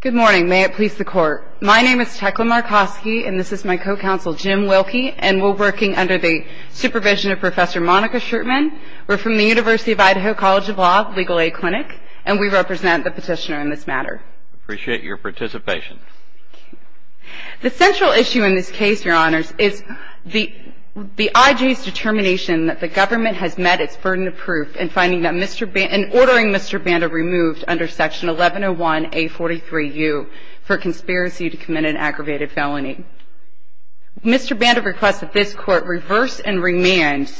Good morning. May it please the Court. My name is Tecla Markoski and this is my co-counsel Jim Wilkie and we're working under the supervision of Professor Monica Schertman. We're from the University of Idaho College of Law Legal Aid Clinic and we represent the petitioner in this matter. Appreciate your participation. The central issue in this case, Your Honors, is the IJ's determination that the government has met its burden of proof in ordering Mr. Banda removed under Section 1101A43U for conspiracy to commit an aggravated felony. Mr. Banda requests that this Court reverse and remand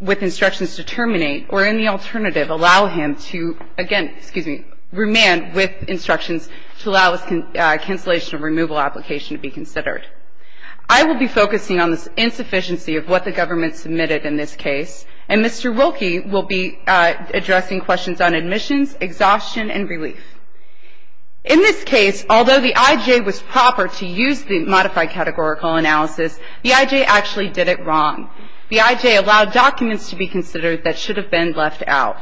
with instructions to terminate or, in the alternative, allow him to, again, excuse me, remand with instructions to allow a cancellation of removal application to be considered. I will be focusing on the insufficiency of what the government submitted in this case and Mr. Wilkie will be addressing questions on admissions, exhaustion, and relief. In this case, although the IJ was proper to use the modified categorical analysis, the IJ actually did it wrong. The IJ allowed documents to be considered that should have been left out.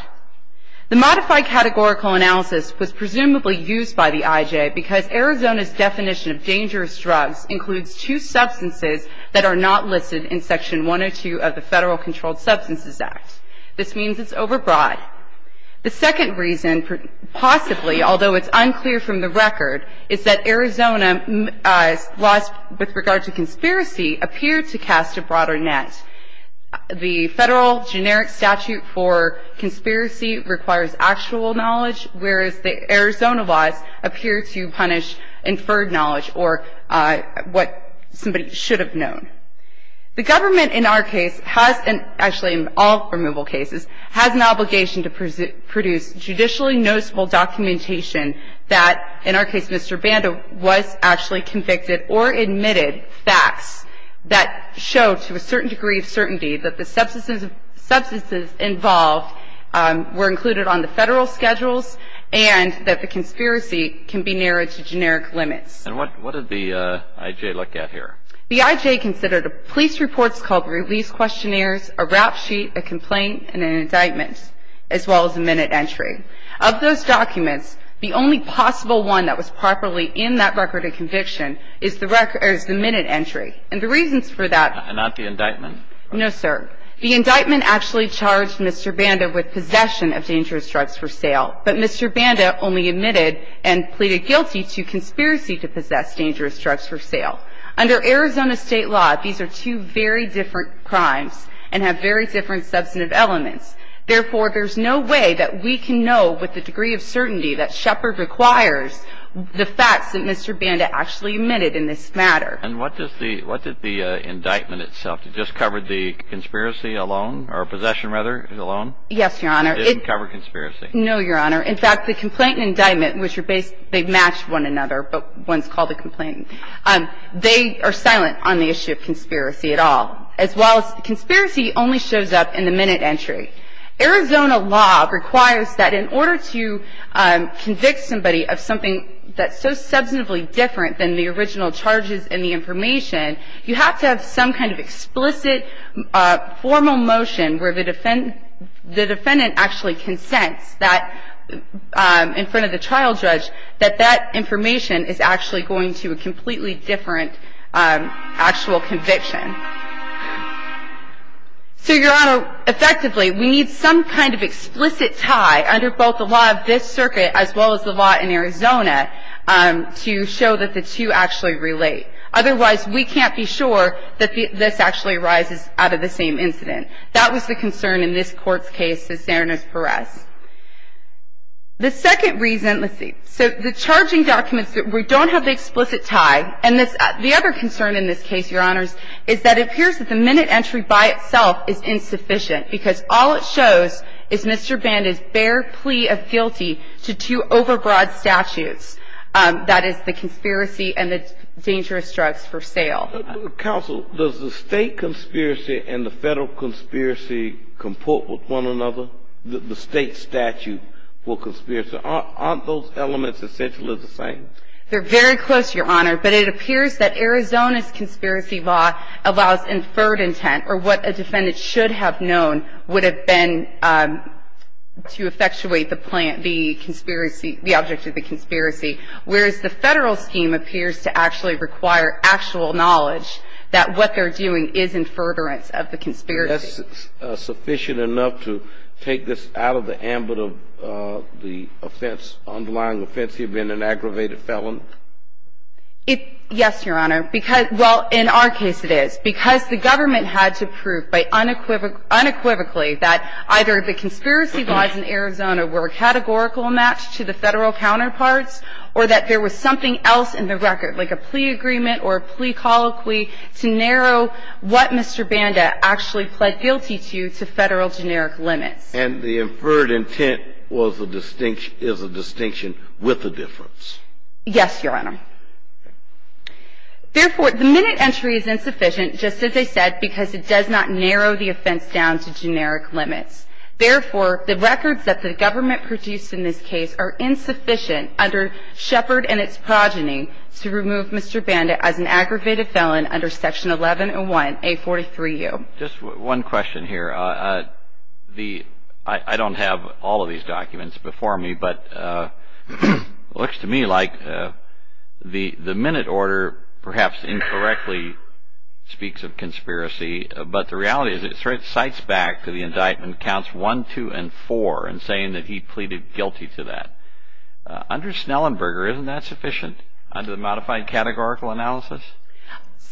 The modified categorical analysis was presumably used by the IJ because Arizona's definition of dangerous drugs includes two substances that are not listed in Section 102 of the Federal Controlled Substances Act. This means it's overbroad. The second reason, possibly, although it's unclear from the record, is that Arizona's laws with regard to conspiracy appear to cast a broader net. The federal generic statute for conspiracy requires actual knowledge, whereas the Arizona laws appear to punish inferred knowledge or what somebody should have known. The government, in our case, has, and actually in all removal cases, has an obligation to produce judicially noticeable documentation that, in our case, Mr. Banda was actually convicted or admitted facts that show to a certain degree of certainty that the substances involved were included on the federal schedules and that the conspiracy can be narrowed to generic limits. And what did the IJ look at here? The IJ considered police reports called release questionnaires, a rap sheet, a complaint, and an indictment, as well as a minute entry. Of those documents, the only possible one that was properly in that record of conviction is the minute entry. And the reasons for that are not the indictment. No, sir. The indictment actually charged Mr. Banda with possession of dangerous drugs for sale. But Mr. Banda only admitted and pleaded guilty to conspiracy to possess dangerous drugs for sale. Under Arizona State law, these are two very different crimes and have very different substantive elements. Therefore, there's no way that we can know with a degree of certainty that Shepard requires the facts that Mr. Banda actually admitted in this matter. And what does the indictment itself, it just covered the conspiracy alone or possession, rather, alone? Yes, Your Honor. It didn't cover conspiracy. No, Your Honor. In fact, the complaint and indictment, which are based, they match one another, but one's called a complaint. They are silent on the issue of conspiracy at all. As well, conspiracy only shows up in the minute entry. Arizona law requires that in order to convict somebody of something that's so substantively different than the original charges and the information, you have to have some kind of explicit, formal motion where the defendant actually consents in front of the trial judge that that information is actually going to a completely different actual conviction. So, Your Honor, effectively, we need some kind of explicit tie under both the law of this circuit as well as the law in Arizona to show that the two actually relate. Otherwise, we can't be sure that this actually arises out of the same incident. That was the concern in this Court's case to Cernas-Perez. The second reason, let's see, so the charging documents, we don't have the explicit tie. And the other concern in this case, Your Honors, is that it appears that the minute entry by itself is insufficient because all it shows is Mr. Band's bare plea of guilty to two overbroad statutes, that is, the conspiracy and the dangerous drugs for sale. Counsel, does the State conspiracy and the Federal conspiracy comport with one another, the State statute for conspiracy? Aren't those elements essentially the same? They're very close, Your Honor, but it appears that Arizona's conspiracy law allows inferred intent or what a defendant should have known would have been to effectuate the plant, the conspiracy, the object of the conspiracy, whereas the Federal scheme appears to actually require actual knowledge that what they're doing is in furtherance of the conspiracy. That's sufficient enough to take this out of the ambit of the offense, underlying offense. Now, does the State conspiracy have been an aggravated felon? Yes, Your Honor. Well, in our case, it is. Because the government had to prove unequivocally that either the conspiracy laws in Arizona were a categorical match to the Federal counterparts or that there was something else in the record, like a plea agreement or a plea colloquy, to narrow what Mr. Banda actually pled guilty to to Federal generic limits. And the inferred intent was a distinction, is a distinction with a difference. Yes, Your Honor. Therefore, the minute entry is insufficient, just as I said, because it does not narrow the offense down to generic limits. Therefore, the records that the government produced in this case are insufficient under Shepard and its progeny to remove Mr. Banda as an aggravated felon under Section 1101A43U. Just one question here. I don't have all of these documents before me, but it looks to me like the minute order perhaps incorrectly speaks of conspiracy, but the reality is it cites back to the indictment counts 1, 2, and 4 and saying that he pleaded guilty to that. Under Snellenberger, isn't that sufficient under the modified categorical analysis?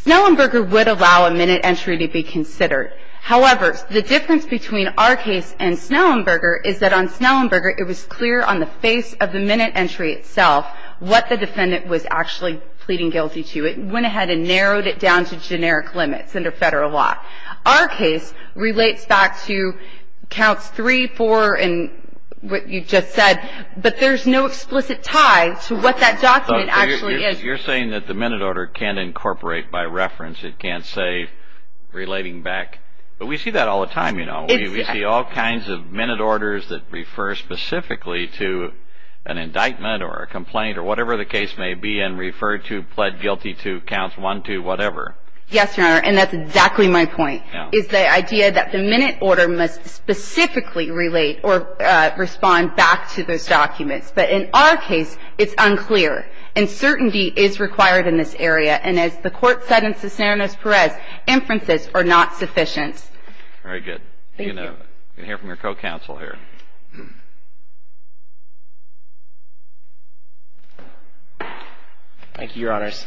Snellenberger would allow a minute entry to be considered. However, the difference between our case and Snellenberger is that on Snellenberger, it was clear on the face of the minute entry itself what the defendant was actually pleading guilty to. It went ahead and narrowed it down to generic limits under Federal law. Our case relates back to counts 3, 4, and what you just said, but there's no explicit tie to what that document actually is. You're saying that the minute order can't incorporate by reference. It can't say relating back, but we see that all the time, you know. We see all kinds of minute orders that refer specifically to an indictment or a complaint or whatever the case may be and refer to pled guilty to counts 1, 2, whatever. Yes, Your Honor, and that's exactly my point, is the idea that the minute order must specifically relate or respond back to those documents, but in our case, it's unclear, and certainty is required in this area, and as the court said in Cisneros-Perez, inferences are not sufficient. Very good. Thank you. We're going to hear from your co-counsel here. Thank you, Your Honors.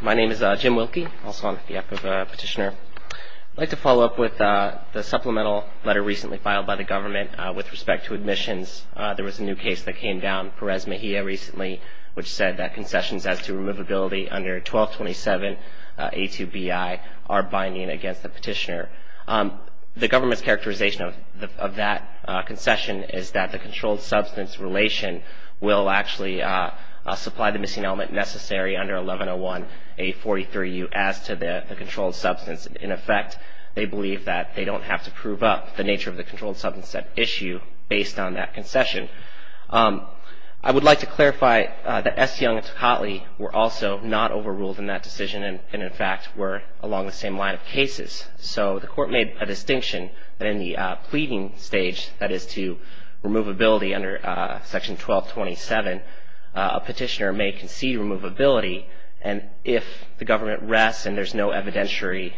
My name is Jim Wilkie, also on behalf of Petitioner. I'd like to follow up with the supplemental letter recently filed by the government with respect to admissions. There was a new case that came down, Perez-Mejia recently, which said that concessions as to removability under 1227A2BI are binding against the petitioner. The government's characterization of that concession is that the controlled substance relation will actually supply the missing element necessary under 1101A43U as to the controlled substance. In effect, they believe that they don't have to prove up the nature of the controlled substance at issue based on that concession. I would like to clarify that Estiang and Tocatli were also not overruled in that decision and, in fact, were along the same line of cases. So the court made a distinction that in the pleading stage, that is to removability under Section 1227, a petitioner may concede removability, and if the government rests and there's no evidentiary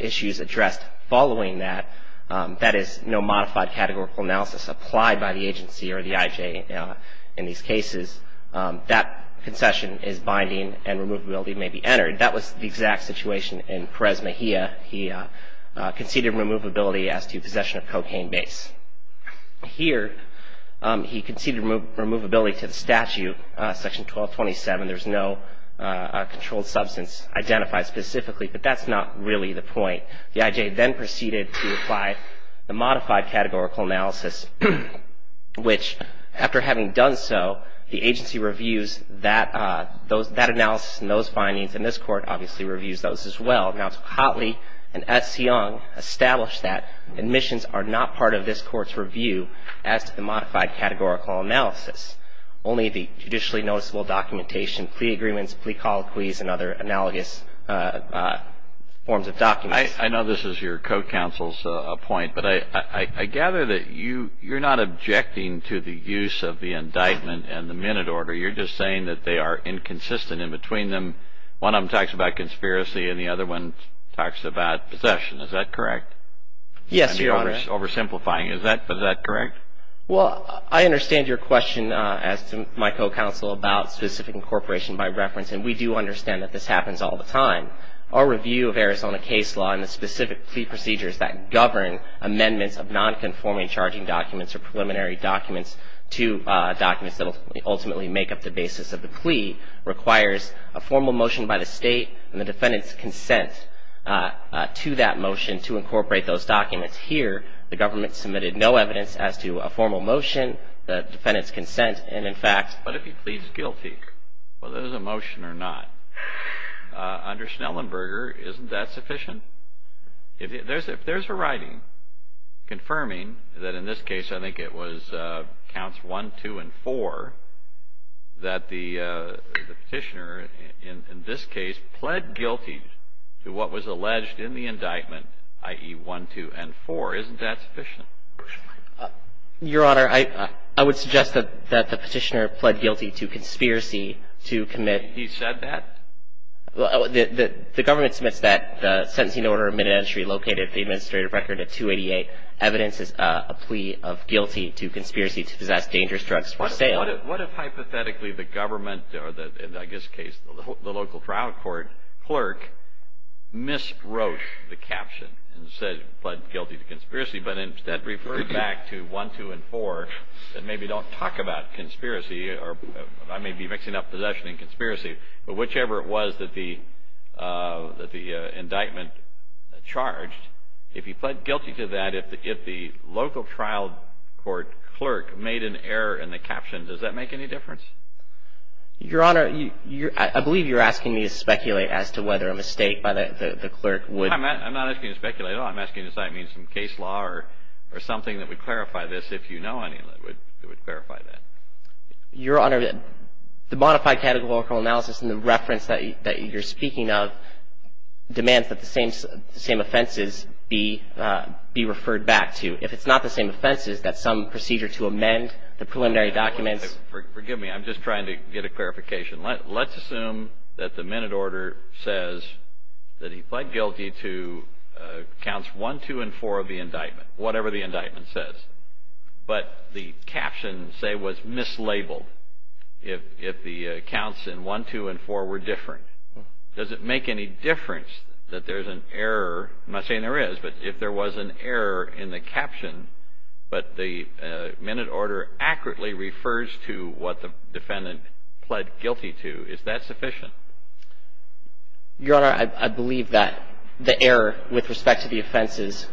issues addressed following that, that is, no modified categorical analysis applied by the agency or the IJ in these cases, that concession is binding and removability may be entered. That was the exact situation in Perez-Mejia. He conceded removability as to possession of cocaine base. Here, he conceded removability to the statute, Section 1227. There's no controlled substance identified specifically, but that's not really the point. The IJ then proceeded to apply the modified categorical analysis, which, after having done so, the agency reviews that analysis and those findings, and this Court obviously reviews those as well. Now, Tocatli and Estiang established that admissions are not part of this Court's review as to the modified categorical analysis, only the judicially noticeable documentation, plea agreements, plea colloquies, and other analogous forms of documents. I know this is your co-counsel's point, but I gather that you're not objecting to the use of the indictment and the minute order. You're just saying that they are inconsistent. In between them, one of them talks about conspiracy and the other one talks about possession. Is that correct? Yes, Your Honor. You're oversimplifying. Is that correct? Well, I understand your question, as to my co-counsel, about specific incorporation by reference, and we do understand that this happens all the time. Our review of Arizona case law and the specific plea procedures that govern amendments of nonconforming charging documents or preliminary documents to documents that ultimately make up the basis of the plea requires a formal motion by the State and the defendant's consent to that motion to incorporate those documents. Here, the government submitted no evidence as to a formal motion, the defendant's consent, and in fact But if he pleads guilty, whether there's a motion or not, under Schnellenberger, isn't that sufficient? If there's a writing confirming that in this case, I think it was counts 1, 2, and 4, that the petitioner in this case pled guilty to what was alleged in the indictment, i.e., 1, 2, and 4, isn't that sufficient? Your Honor, I would suggest that the petitioner pled guilty to conspiracy to commit And he said that? The government submits that sentencing order of minute entry located at the administrative record at 288. Evidence is a plea of guilty to conspiracy to possess dangerous drugs for sale. What if hypothetically the government or, in this case, the local trial court clerk miswrote the caption and said, pled guilty to conspiracy, but instead referred back to 1, 2, and 4 and maybe don't talk about conspiracy, or I may be mixing up possession and conspiracy, but whichever it was that the indictment charged, if he pled guilty to that, if the local trial court clerk made an error in the caption, does that make any difference? Your Honor, I believe you're asking me to speculate as to whether a mistake by the clerk would Your Honor, the modified categorical analysis in the reference that you're speaking of demands that the same offenses be referred back to. If it's not the same offenses, that some procedure to amend the preliminary documents Forgive me. I'm just trying to get a clarification. Let's assume that the minute order says that he pled guilty to counseling, whatever the indictment says, but the caption, say, was mislabeled if the counts in 1, 2, and 4 were different. Does it make any difference that there's an error? I'm not saying there is, but if there was an error in the caption, but the minute order accurately refers to what the defendant pled guilty to, is that sufficient? Your Honor, I believe that the error with respect to the offenses,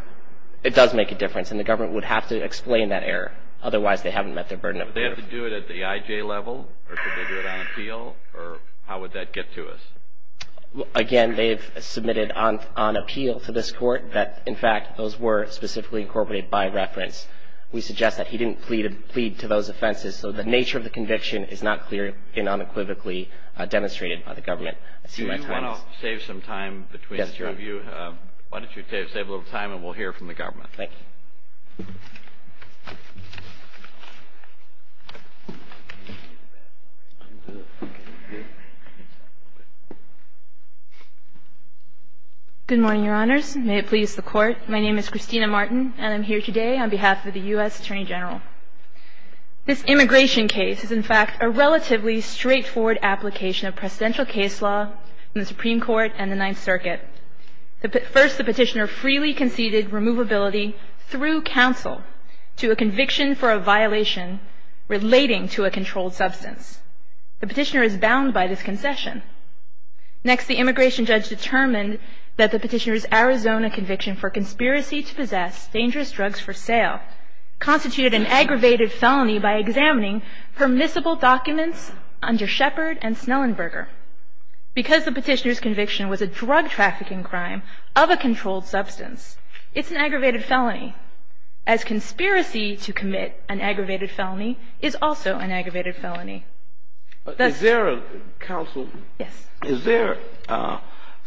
it does make a difference, and the government would have to explain that error. Otherwise, they haven't met their burden of evidence. Would they have to do it at the IJ level, or could they do it on appeal, or how would that get to us? Again, they've submitted on appeal to this Court that, in fact, those were specifically incorporated by reference. We suggest that he didn't plead to those offenses, so the nature of the conviction is not clear and unequivocally demonstrated by the government. Do you want to save some time between the two of you? Yes, Your Honor. Why don't you save a little time, and we'll hear from the government. Thank you. Good morning, Your Honors. May it please the Court. My name is Christina Martin, and I'm here today on behalf of the U.S. Attorney General. This immigration case is, in fact, a relatively straightforward application of presidential case law in the Supreme Court and the Ninth Circuit. First, the Petitioner freely conceded removability through counsel to a conviction for a violation relating to a controlled substance. The Petitioner is bound by this concession. Next, the immigration judge determined that the Petitioner's Arizona conviction for conspiracy to possess dangerous drugs for sale constituted an aggravated felony by examining permissible documents under Shepard and Snellenberger. Because the Petitioner's conviction was a drug trafficking crime of a controlled substance, it's an aggravated felony, as conspiracy to commit an aggravated felony is also an aggravated felony. Is there a counsel? Yes. Is there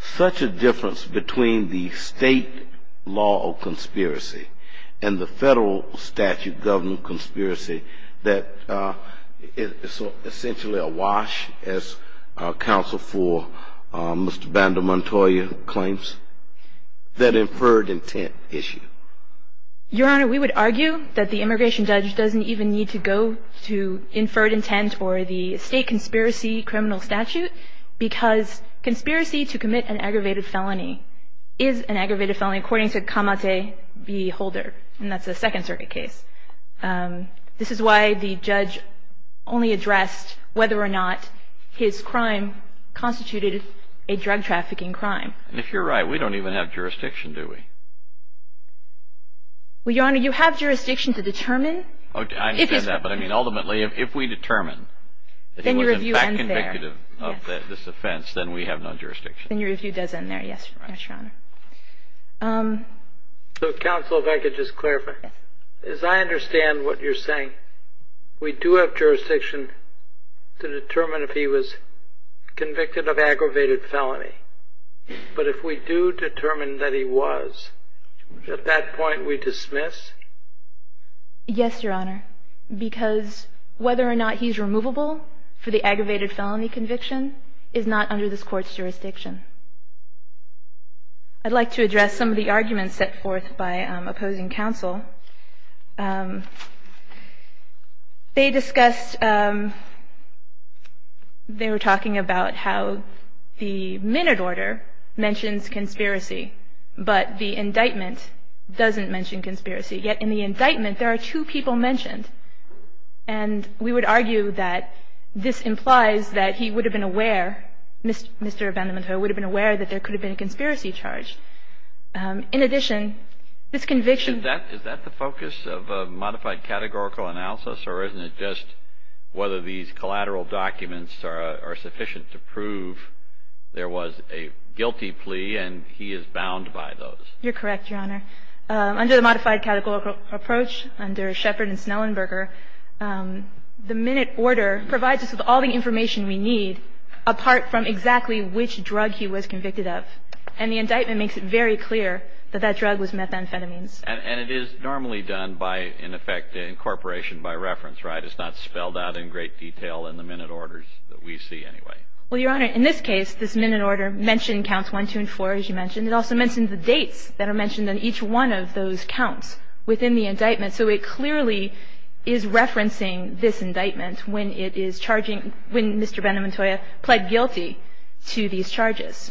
such a difference between the state law of conspiracy and the federal statute governing conspiracy that is essentially a wash, as counsel for Mr. Vandal Montoya claims, that inferred intent issue? Your Honor, we would argue that the immigration judge doesn't even need to go to inferred intent or the state conspiracy criminal statute because conspiracy to commit an aggravated felony is an aggravated felony according to Kamate v. Holder, and that's a Second Circuit case. This is why the judge only addressed whether or not his crime constituted a drug trafficking crime. And if you're right, we don't even have jurisdiction, do we? Well, Your Honor, you have jurisdiction to determine. I understand that, but ultimately if we determine that he was in fact convictive of this offense, then we have no jurisdiction. Then your review does end there, yes, Your Honor. Counsel, if I could just clarify, as I understand what you're saying, we do have jurisdiction to determine if he was convicted of aggravated felony. But if we do determine that he was, at that point we dismiss? Yes, Your Honor, because whether or not he's removable for the aggravated felony conviction is not under this Court's jurisdiction. I'd like to address some of the arguments set forth by opposing counsel. They discussed, they were talking about how the minute order mentions conspiracy, but the indictment doesn't mention conspiracy. Yet in the indictment, there are two people mentioned. And we would argue that this implies that he would have been aware, Mr. Vandermutho, would have been aware that there could have been a conspiracy charge. In addition, this conviction. Is that the focus of a modified categorical analysis, or isn't it just whether these collateral documents are sufficient to prove there was a guilty plea and he is bound by those? You're correct, Your Honor. Under the modified categorical approach, under Shepard and Snellenberger, the minute order provides us with all the information we need, apart from exactly which drug he was convicted of. And the indictment makes it very clear that that drug was methamphetamines. And it is normally done by, in effect, incorporation by reference, right? It's not spelled out in great detail in the minute orders that we see anyway. Well, Your Honor, in this case, this minute order mentioned counts one, two, and four, as you mentioned. It also mentions the dates that are mentioned on each one of those counts within the indictment. So it clearly is referencing this indictment when it is charging, when Mr. Vandermutho pled guilty to these charges.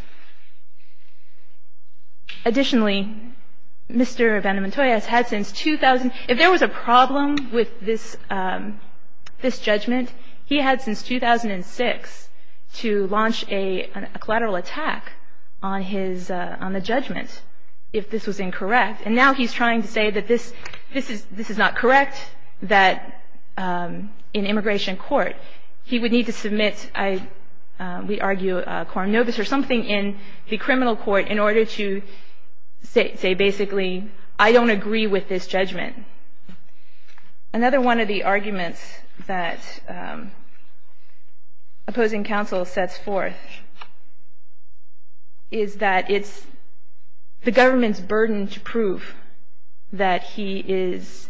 Additionally, Mr. Vandermutho has had since 2000 — if there was a problem with this judgment, he had since 2006 to launch a collateral attack on his — on the judgment if this was incorrect. And now he's trying to say that this is not correct, that in immigration court he would need to submit, we argue, a quorum nobis or something in the criminal court in order to say basically, I don't agree with this judgment. Another one of the arguments that opposing counsel sets forth is that it's the government's burden to prove that he is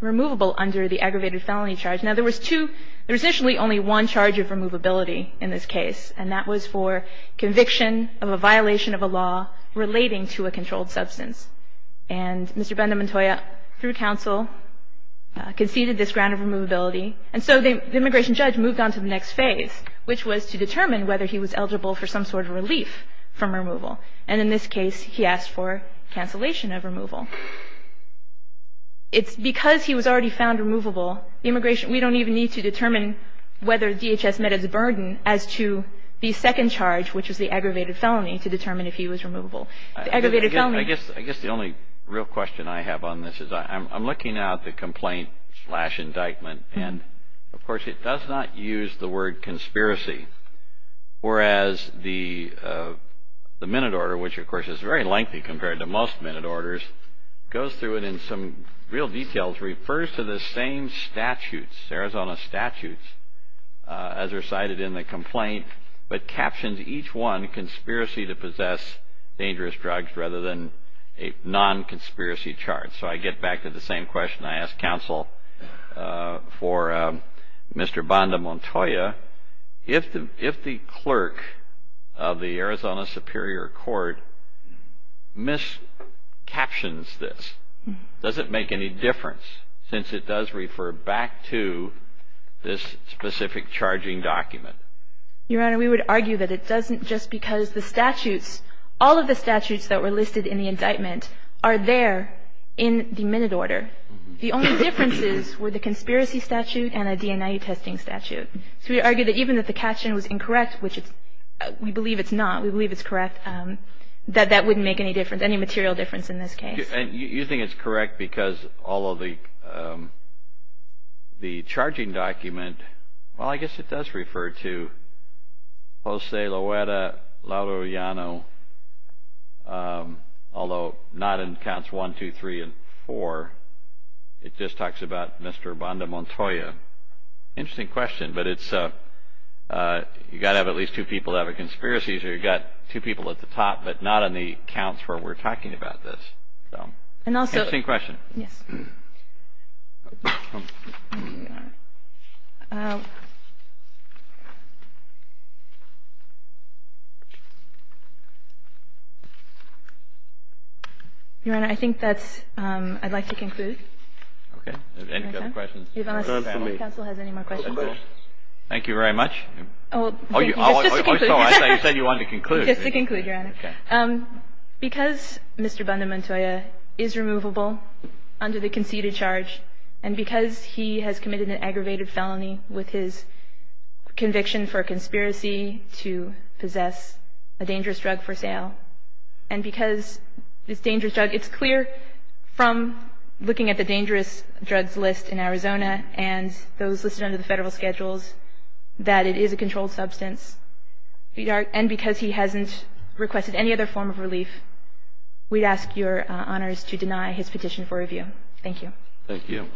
removable under the aggravated felony charge. Now, there was two — there was initially only one charge of removability in this case, and that was for conviction of a violation of a law relating to a controlled substance. And Mr. Vandermutho, through counsel, conceded this ground of removability. And so the immigration judge moved on to the next phase, which was to determine whether he was eligible for some sort of relief from removal. And in this case, he asked for cancellation of removal. It's because he was already found removable, the immigration — we don't even need to determine whether DHS met its burden as to the second charge, which was the aggravated felony, to determine if he was removable. The aggravated felony — I guess the only real question I have on this is I'm looking at the complaint-slash-indictment. And, of course, it does not use the word conspiracy, whereas the minute order, which of course is very lengthy compared to most minute orders, goes through it in some real details, refers to the same statutes, Arizona statutes, as recited in the complaint, but captions each one, conspiracy to possess dangerous drugs, rather than a non-conspiracy charge. So I get back to the same question I asked counsel for Mr. Vandermutho. If the clerk of the Arizona Superior Court miscaptions this, does it make any difference, since it does refer back to this specific charging document? Your Honor, we would argue that it doesn't, just because the statutes, all of the statutes that were listed in the indictment are there in the minute order. The only differences were the conspiracy statute and a DNI testing statute. So we argue that even if the caption was incorrect, which we believe it's not, we believe it's correct, that that wouldn't make any difference, any material difference in this case. And you think it's correct because all of the charging document — Jose Loera Laurillano, although not in counts one, two, three, and four, it just talks about Mr. Vandermutho. Interesting question, but it's — you've got to have at least two people that have a conspiracy, so you've got two people at the top, but not on the counts where we're talking about this. Interesting question. Yes. Your Honor, I think that's — I'd like to conclude. Okay. Any other questions? Your Honor, does the Counsel have any more questions? Thank you very much. Just to conclude. Oh, sorry, you said you wanted to conclude. Just to conclude, Your Honor. Because Mr. Vandermutho is removable under the conceded charge and because he has committed an aggravated felony with his conviction for a conspiracy to possess a dangerous drug for sale, and because this dangerous drug — it's clear from looking at the dangerous drugs list in Arizona and those listed under the federal schedules that it is a controlled substance, and because he hasn't requested any other form of relief, we'd ask your Honors to deny his petition for review. Thank you. Thank you.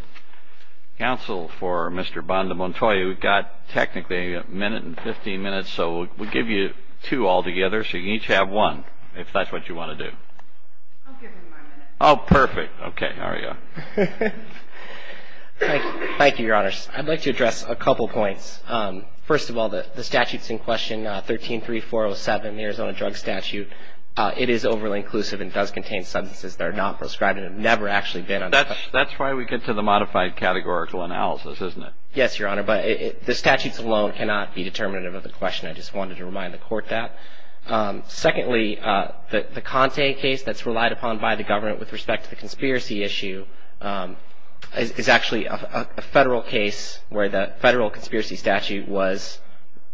Counsel for Mr. Vandermutho, you've got technically a minute and 15 minutes, so we'll give you two altogether, so you can each have one, if that's what you want to do. I'll give him my minute. Oh, perfect. Okay, there you go. Thank you, Your Honors. I'd like to address a couple points. First of all, the statute's in question, 13-3407, the Arizona Drug Statute. It is overly inclusive and does contain substances that are not prescribed and have never actually been. That's why we get to the modified categorical analysis, isn't it? Yes, Your Honor, but the statutes alone cannot be determinative of the question. I just wanted to remind the Court that. Secondly, the Conte case that's relied upon by the government with respect to the conspiracy issue is actually a federal case where the federal conspiracy statute was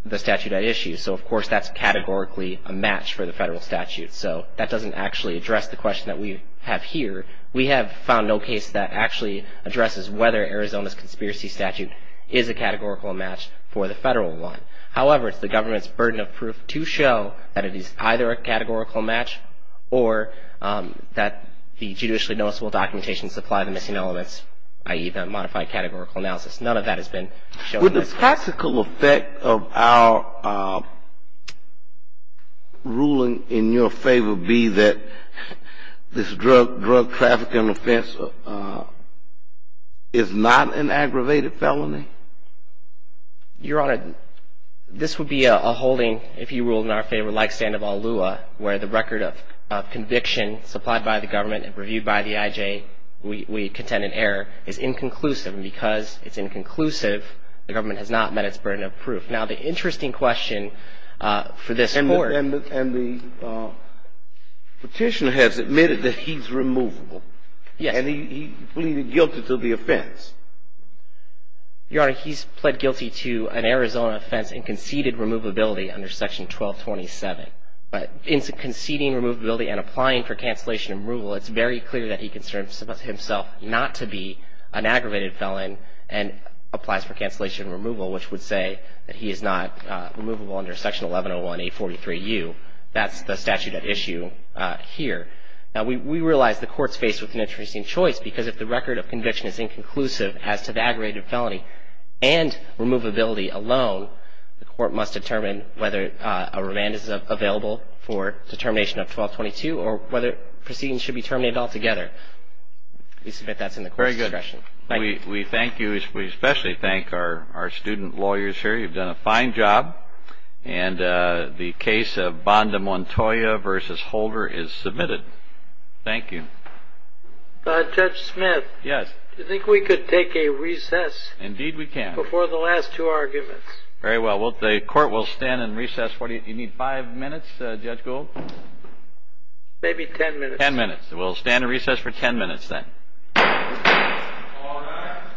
the statute at issue. So, of course, that's categorically a match for the federal statute. So, that doesn't actually address the question that we have here. We have found no case that actually addresses whether Arizona's conspiracy statute is a categorical match for the federal one. However, it's the government's burden of proof to show that it is either a categorical match or that the judicially noticeable documentation supply the missing elements, i.e., the modified categorical analysis. None of that has been shown in this case. Would the practical effect of our ruling in your favor be that this drug trafficking offense is not an aggravated felony? Your Honor, this would be a holding, if you ruled in our favor, like Sandoval Lua, where the record of conviction supplied by the government and reviewed by the IJ, we contend an error, is inconclusive. And because it's inconclusive, the government has not met its burden of proof. Now, the interesting question for this Court — And the Petitioner has admitted that he's removable. Yes. And he pleaded guilty to the offense. Your Honor, he's pled guilty to an Arizona offense in conceded removability under Section 1227. But in conceding removability and applying for cancellation and removal, it's very clear that he considers himself not to be an aggravated felon and applies for cancellation and removal, which would say that he is not removable under Section 1101A43U. That's the statute at issue here. Now, we realize the Court's faced with an interesting choice because if the record of conviction is inconclusive, as to the aggravated felony and removability alone, the Court must determine whether a remand is available for determination of 1222 or whether proceedings should be terminated altogether. We submit that's in the Court's discretion. Very good. We thank you. We especially thank our student lawyers here. You've done a fine job. And the case of Banda Montoya v. Holder is submitted. Thank you. Judge Smith? Yes. Do you think we could take a recess? Indeed we can. Before the last two arguments. Very well. The Court will stand and recess. You need five minutes, Judge Gould? Maybe ten minutes. Ten minutes. We'll stand and recess for ten minutes then. All rise.